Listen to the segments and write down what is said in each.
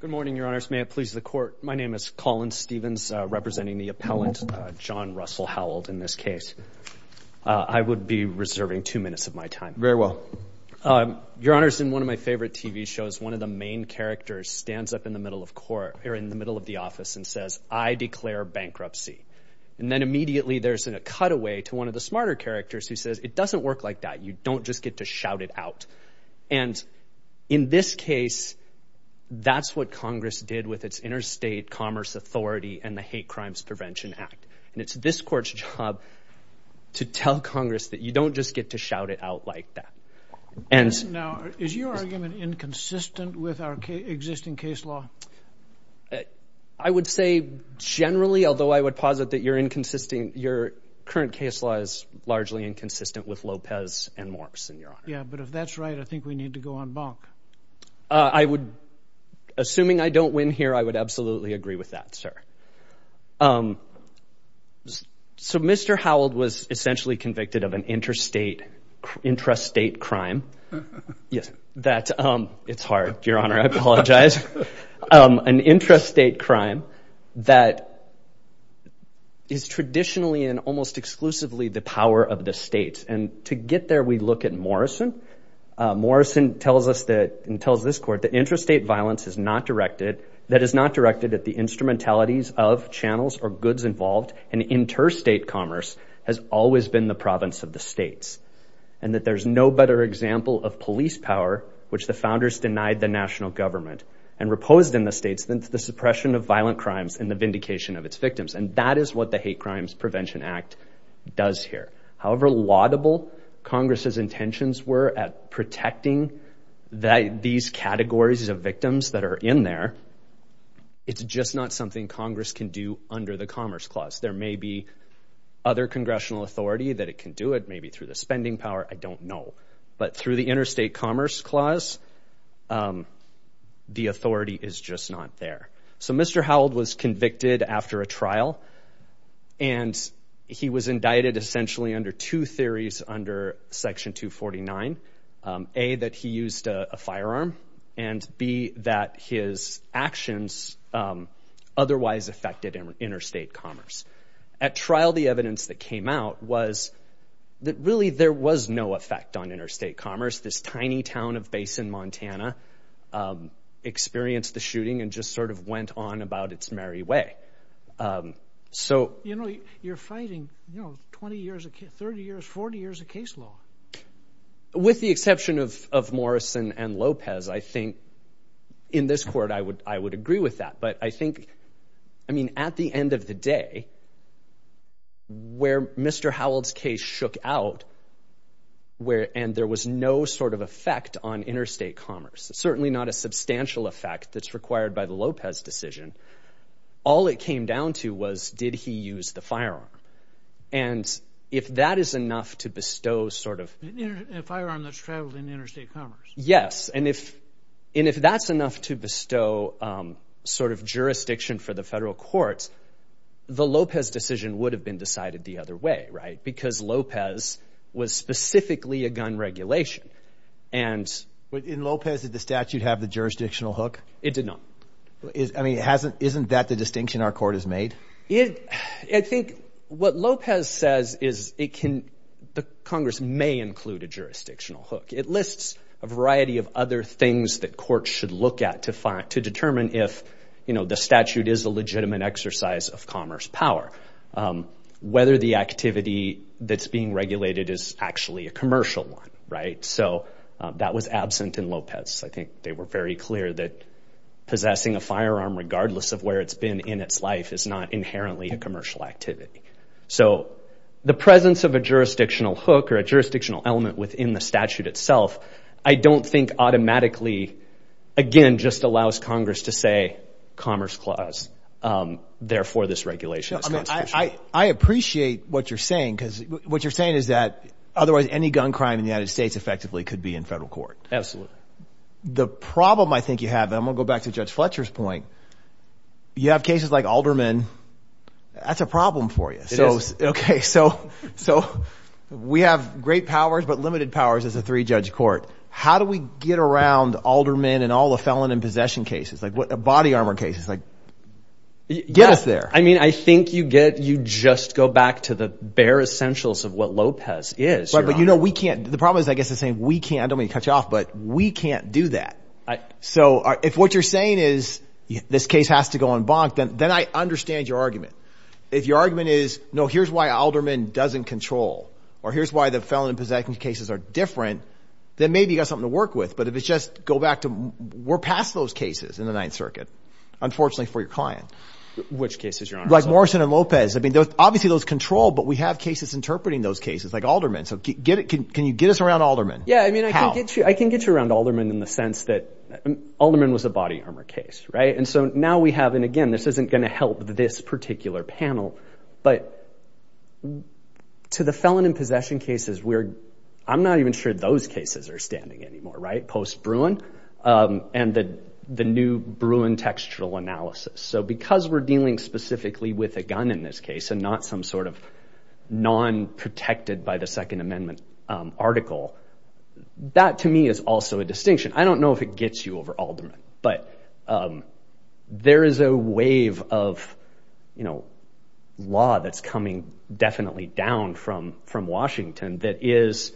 Good morning, your honors. May it please the court. My name is Colin Stevens, representing the appellant, John Russell Howald, in this case. I would be reserving two minutes of my time. Very well. Your honors, in one of my favorite TV shows, one of the main characters stands up in the middle of court, or in the middle of the office, and says, I declare bankruptcy. And then immediately there's a cutaway to one of the smarter characters who says, it doesn't work like that. You don't just get to shout it out. And in this case, that's what Congress did with its interstate commerce authority and the Hate Crimes Prevention Act. And it's this court's job to tell Congress that you don't just get to shout it out like that. Now, is your argument inconsistent with our existing case law? I would say generally, although I would posit that your current case law is largely inconsistent with Lopez and Assuming I don't win here, I would absolutely agree with that, sir. So Mr. Howald was essentially convicted of an intrastate crime. It's hard, your honor. I apologize. An intrastate crime that is traditionally and almost exclusively the power of the state. And to get there, we look at Morrison. Morrison tells us that, and tells this court, that intrastate violence is not directed, that is not directed at the instrumentalities of channels or goods involved, and interstate commerce has always been the province of the states. And that there's no better example of police power, which the founders denied the national government and reposed in the states, than the suppression of violent crimes and the vindication of its intentions were at protecting these categories of victims that are in there. It's just not something Congress can do under the Commerce Clause. There may be other congressional authority that it can do it, maybe through the spending power, I don't know. But through the Interstate Commerce Clause, the authority is just not there. So Mr. Howald was convicted after a trial and he was indicted essentially under two theories under Section 249. A, that he used a firearm, and B, that his actions otherwise affected interstate commerce. At trial, the evidence that came out was that really there was no effect on interstate commerce. This tiny town of Basin, Montana experienced the shooting and just sort of went on about its merry way. So... You're fighting 20 years, 30 years, 40 years of case law. With the exception of Morrison and Lopez, I think in this court I would agree with that. But I think, I mean, at the end of the day, where Mr. Howald's case shook out, and there was no sort of effect on interstate commerce, certainly not a substantial effect that's required by the Lopez decision, all it came down to was, did he use the firearm? And if that is enough to bestow sort of... A firearm that's traveled in interstate commerce. Yes. And if that's enough to bestow sort of jurisdiction for the federal courts, the Lopez decision would have been decided the other way, right? Because Lopez was specifically a gun regulation. And... But in Lopez, did the statute have the jurisdictional hook? It did not. I mean, hasn't, isn't that the distinction our court has made? It, I think what Lopez says is it can, the Congress may include a jurisdictional hook. It lists a variety of other things that courts should look at to find, to determine if, you know, the statute is a legitimate exercise of commerce power. Whether the activity that's being regulated is actually a commercial one, right? So that was absent in Lopez. I think they were very clear that possessing a firearm regardless of where it's been in its life is not inherently a commercial activity. So the presence of a jurisdictional hook or a jurisdictional element within the statute itself, I don't think automatically, again, just allows Congress to say commerce clause, therefore this regulation is constitutional. I appreciate what you're saying because what you're saying is that otherwise any gun crime in the United States effectively could be in federal court. Absolutely. The problem I think you have, and I'm going to go back to Judge Fletcher's point, you have cases like Alderman, that's a problem for you. It is. Okay. So, so we have great powers, but limited powers as a three-judge court. How do we get around Alderman and all the felon in possession cases? Like what, body armor cases, like get us there. I mean, I think you get, you just go back to the bare essentials of what Lopez is. Right. But you know, we can't, the problem is, I guess the same, we can't, I don't mean to cut we can't do that. So if what you're saying is this case has to go on bonk, then I understand your argument. If your argument is, no, here's why Alderman doesn't control, or here's why the felon in possession cases are different, then maybe you got something to work with. But if it's just go back to, we're past those cases in the ninth circuit, unfortunately for your client. Which cases, Your Honor? Like Morrison and Lopez. I mean, obviously those control, but we have cases interpreting those cases like Alderman. So can you get us around Alderman? Yeah. I mean, I can get you, I can get you around Alderman in the sense that Alderman was a body armor case. Right. And so now we have, and again, this isn't going to help this particular panel, but to the felon in possession cases, we're, I'm not even sure those cases are standing anymore. Right. Post Bruin and the, the new Bruin textural analysis. So because we're dealing specifically with a gun in this case and not some sort of non protected by the second amendment article, that to me is also a distinction. I don't know if it gets you over Alderman, but there is a wave of, you know, law that's coming definitely down from, from Washington that is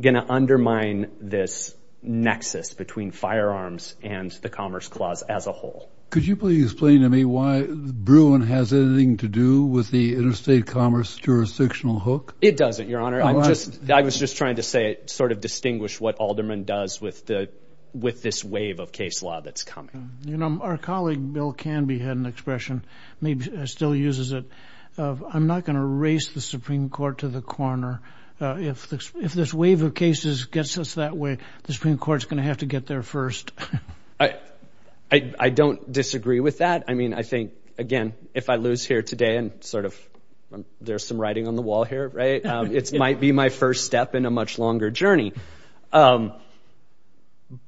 going to undermine this nexus between firearms and the commerce clause as a whole. Could you please explain to me why Bruin has anything to do with the interstate commerce jurisdictional hook? It doesn't, Your Honor. I'm just, I was just trying to say, sort of distinguish what Alderman does with the, with this wave of case law that's coming. You know, our colleague, Bill Canby had an expression, maybe still uses it of, I'm not going to race the Supreme court to the corner. If, if this wave of cases gets us that way, the Supreme court is going to have to get there first. I, I, I don't disagree with that. I mean, I think again, if I lose here today and sort of there's some writing on the wall here, right? It's might be my first step in a much longer journey.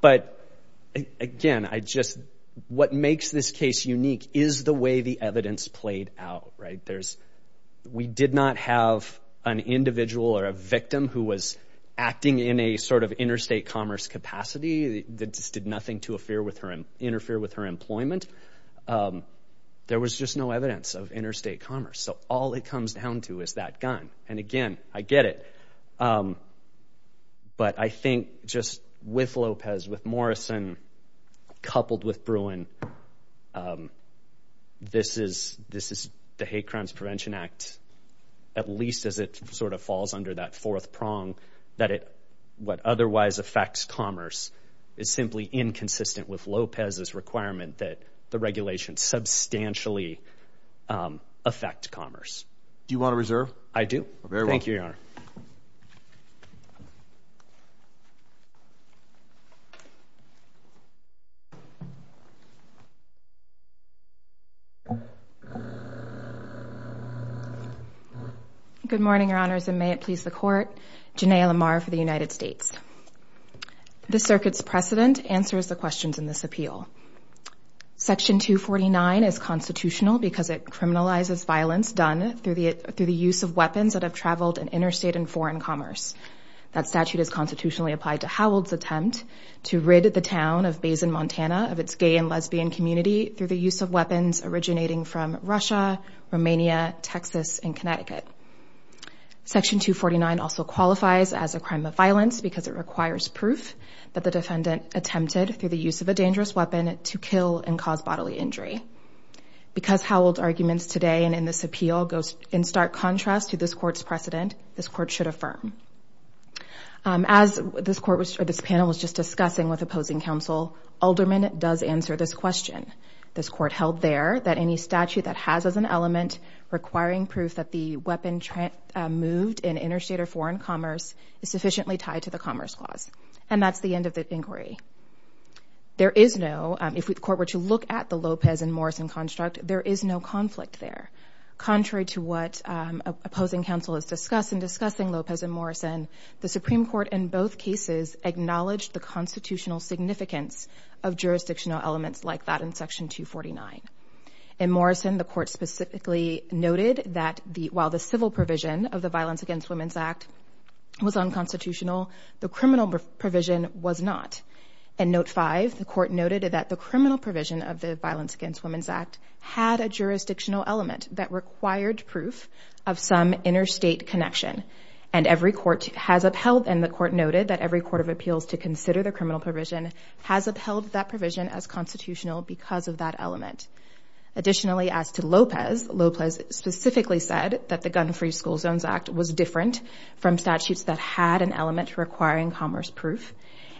But again, I just, what makes this case unique is the way the evidence played out, right? There's, we did not have an individual or a victim who was acting in a sort of interstate commerce capacity that just did nothing to affair with her, interfere with her employment. There was just no evidence of interstate commerce. So all it comes down to is that gun. And again, I get it. But I think just with Lopez, with Morrison, coupled with Bruin, this is, this is the Hate Crimes Prevention Act, at least as it sort of falls under that fourth prong that it, what otherwise affects commerce is simply inconsistent with Lopez's requirement that the regulations substantially affect commerce. Do you want to reserve? I do. Thank you, Your Honor. Good morning, Your Honors, and may it please the court. Janay Lamar for the United States. The circuit's precedent answers the questions in this appeal. Section 249 is constitutional because it criminalizes violence done through the, through the use of weapons that have traveled in interstate and foreign commerce. That statute is constitutionally applied to Howell's attempt to rid the town of Basin, Montana, of its gay and lesbian community through the use of weapons originating from Russia, Romania, Texas, and Connecticut. Section 249 also qualifies as a crime of violence because it requires proof that the defendant attempted through the use of a dangerous weapon to kill and cause bodily injury. Because Howell's arguments today and in this appeal goes in stark contrast to this court's precedent, this court should affirm. As this court was, or this panel was just discussing with opposing counsel, Alderman does answer this question. This court held there that any statute that has as an element requiring proof that the weapon moved in interstate or foreign commerce is sufficiently tied to the commerce clause. And that's the end of the inquiry. There is no, if the court were to look at the Lopez and Morrison construct, there is no conflict there. Contrary to what opposing counsel has discussed in discussing Lopez and Morrison, the Supreme Court in both cases acknowledged the constitutional significance of jurisdictional elements like that in Section 249. In Morrison, the court specifically noted that the, while the civil provision of the Violence Against Women's Act was unconstitutional, the criminal provision was not. In Note 5, the court noted that the criminal provision of the Violence Against Women's Act had a jurisdictional element that required proof of some interstate connection. And every court has upheld, and the to consider the criminal provision has upheld that provision as constitutional because of that element. Additionally, as to Lopez, Lopez specifically said that the Gun-Free School Zones Act was different from statutes that had an element requiring commerce proof.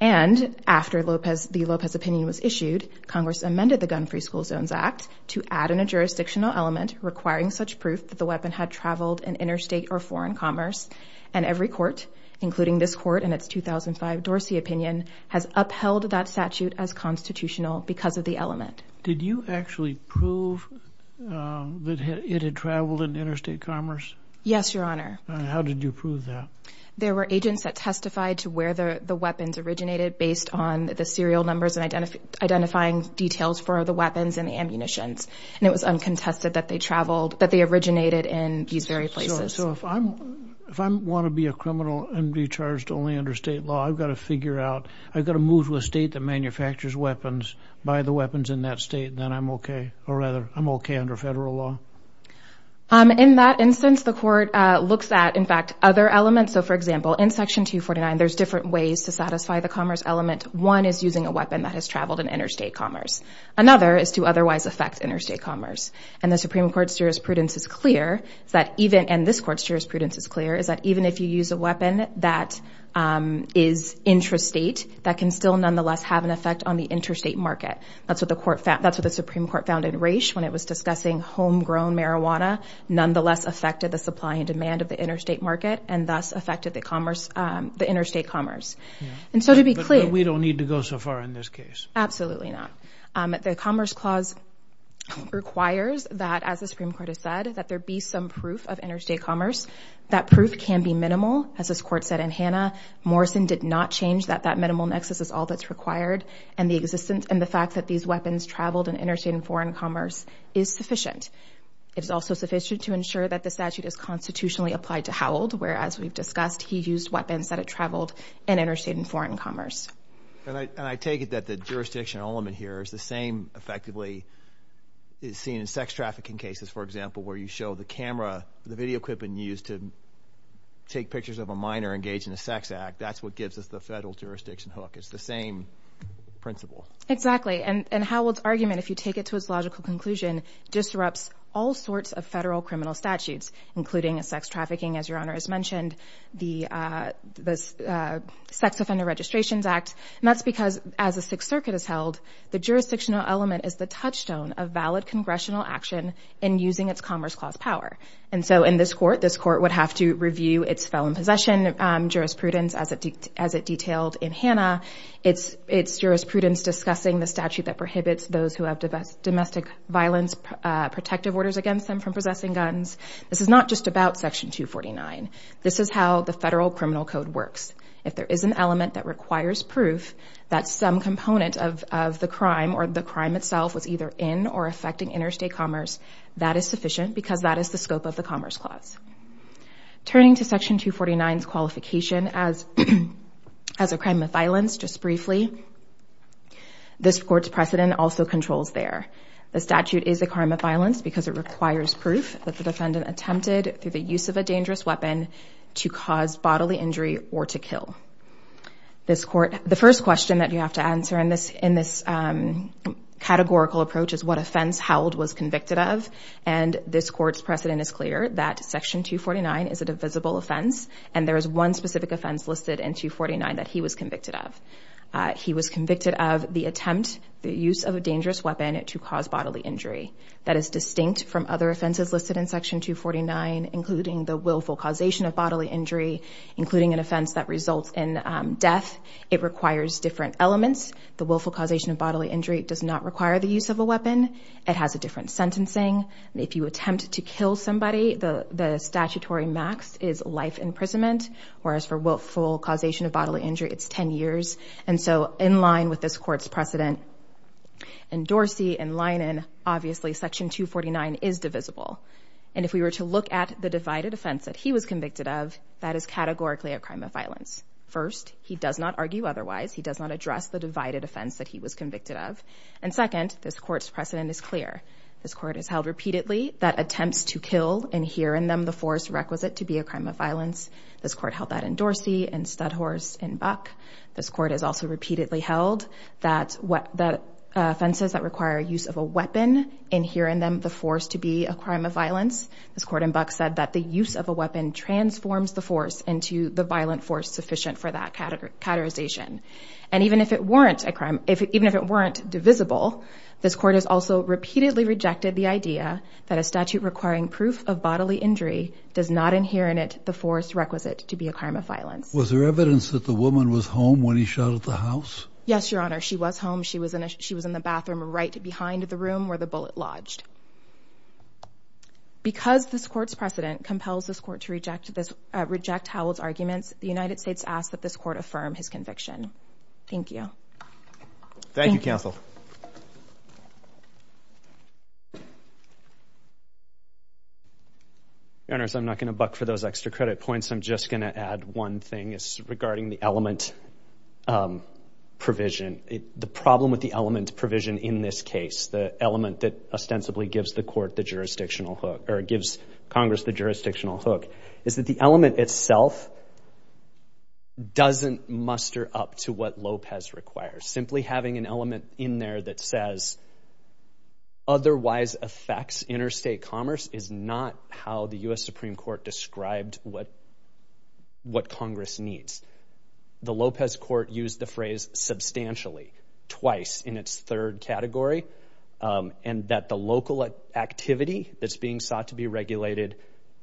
And after Lopez, the Lopez opinion was issued, Congress amended the Gun-Free School Zones Act to add in a jurisdictional element requiring such proof that the weapon had traveled in interstate or foreign commerce. And every court, including this court in its 2005 Dorsey opinion, has upheld that statute as constitutional because of the element. Did you actually prove that it had traveled in interstate commerce? Yes, Your Honor. How did you prove that? There were agents that testified to where the weapons originated based on the serial numbers and identifying details for the weapons and the ammunitions. And it was uncontested that they originated in these very places. So if I want to be a criminal and be charged only under state law, I've got to figure out, I've got to move to a state that manufactures weapons, buy the weapons in that state, then I'm okay. Or rather, I'm okay under federal law. In that instance, the court looks at, in fact, other elements. So for example, in Section 249, there's different ways to satisfy the commerce element. One is using a weapon that has traveled in interstate commerce. Another is to otherwise affect interstate commerce. And the Supreme Court's jurisprudence is clear, and this court's jurisprudence is clear, is that even if you use a weapon that is intrastate, that can still nonetheless have an effect on the interstate market. That's what the Supreme Court found in Raich when it was discussing homegrown marijuana, nonetheless affected the supply and demand of the interstate market and thus affected the interstate commerce. But we don't need to go so far in this case. Absolutely not. The Commerce Clause requires that, as the Supreme Court has said, that there be some proof of interstate commerce. That proof can be minimal, as this court said in Hanna. Morrison did not change that that minimal nexus is all that's required, and the existence and the fact that these weapons traveled in interstate and foreign commerce is sufficient. It is also sufficient to ensure that the statute is constitutionally applied to Howell, where, as we've discussed, he used weapons that had traveled in interstate and foreign commerce. And I take it that the jurisdiction element here is the same, effectively, seen in sex trafficking cases, for example, where you show the camera, the video equipment used to take pictures of a minor engaged in a sex act. That's what gives us the federal jurisdiction hook. It's the same principle. Exactly. And Howell's argument, if you take it to its logical conclusion, disrupts all sorts of federal criminal statutes, including sex trafficking, as Your Honor has mentioned, the Sex Offender Registrations Act. And that's because, as the Sixth Circuit has held, the jurisdictional element is the touchstone of valid congressional action in using its Commerce Clause power. And so in this court, this court would have to review its felon possession jurisprudence, as it detailed in Hanna. It's jurisprudence discussing the statute that prohibits those who have domestic violence protective orders against them from possessing This is how the federal criminal code works. If there is an element that requires proof that some component of the crime or the crime itself was either in or affecting interstate commerce, that is sufficient because that is the scope of the Commerce Clause. Turning to Section 249's qualification as a crime of violence, just briefly, this court's precedent also controls there. The statute is a crime of violence because it requires proof that the defendant attempted, through the use of a dangerous weapon, to cause bodily injury or to kill. The first question that you have to answer in this categorical approach is what offense Howell was convicted of, and this court's precedent is clear that Section 249 is a divisible offense, and there is one specific offense listed in 249 that he was convicted of. He was convicted of the attempt, the use of a dangerous weapon, to cause bodily injury. That is distinct from other listed in Section 249, including the willful causation of bodily injury, including an offense that results in death. It requires different elements. The willful causation of bodily injury does not require the use of a weapon. It has a different sentencing. If you attempt to kill somebody, the statutory max is life imprisonment, whereas for willful causation of bodily injury, it's 10 years, and so in line with this court's precedent and Dorsey and Linen, obviously, Section 249 is divisible, and if we were to look at the divided offense that he was convicted of, that is categorically a crime of violence. First, he does not argue otherwise. He does not address the divided offense that he was convicted of, and second, this court's precedent is clear. This court has held repeatedly that attempts to kill and hear in them the force requisite to be a crime of violence. This court held that in Dorsey and Studhorse and Buck. This court has also repeatedly held that offenses that require use of a weapon inhere in them the force to be a crime of violence. This court in Buck said that the use of a weapon transforms the force into the violent force sufficient for that categorization, and even if it weren't divisible, this court has also repeatedly rejected the idea that a statute requiring proof of bodily injury does not inhere in it the force requisite to be a crime of violence. Was there evidence that the woman was home when he shot at the house? Yes, Your Honor. She was home. She was in the bathroom right behind the room where the bullet lodged. Because this court's precedent compels this court to reject Howell's arguments, the United States asks that this court affirm his conviction. Thank you. Thank you, counsel. Your Honor, I'm not going to buck for those extra credit points. I'm just going to add one thing. It's regarding the element provision. The problem with the element provision in this case, the element that ostensibly gives the court the jurisdictional hook or gives Congress the jurisdictional hook, is that the element itself doesn't muster up to what Lopez requires. Simply having an element in there that says otherwise affects interstate commerce is not how the U.S. Supreme Court described what Congress needs. The Lopez court used the phrase substantially twice in its third category, and that the local activity that's being sought to be regulated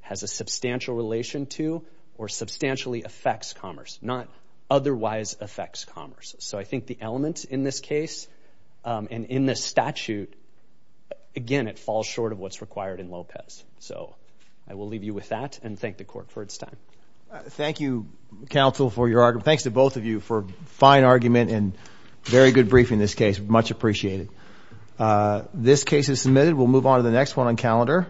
has a substantial relation to or substantially affects commerce, not otherwise affects commerce. So I think the element in this case and in this statute, again, it falls short of what's required in Lopez. So I will leave you with that and thank the court for its time. Thank you, counsel, for your argument. Thanks to both of you for a fine argument and very good briefing this case. Much appreciated. This case is submitted. We'll move on to the next one on calendar.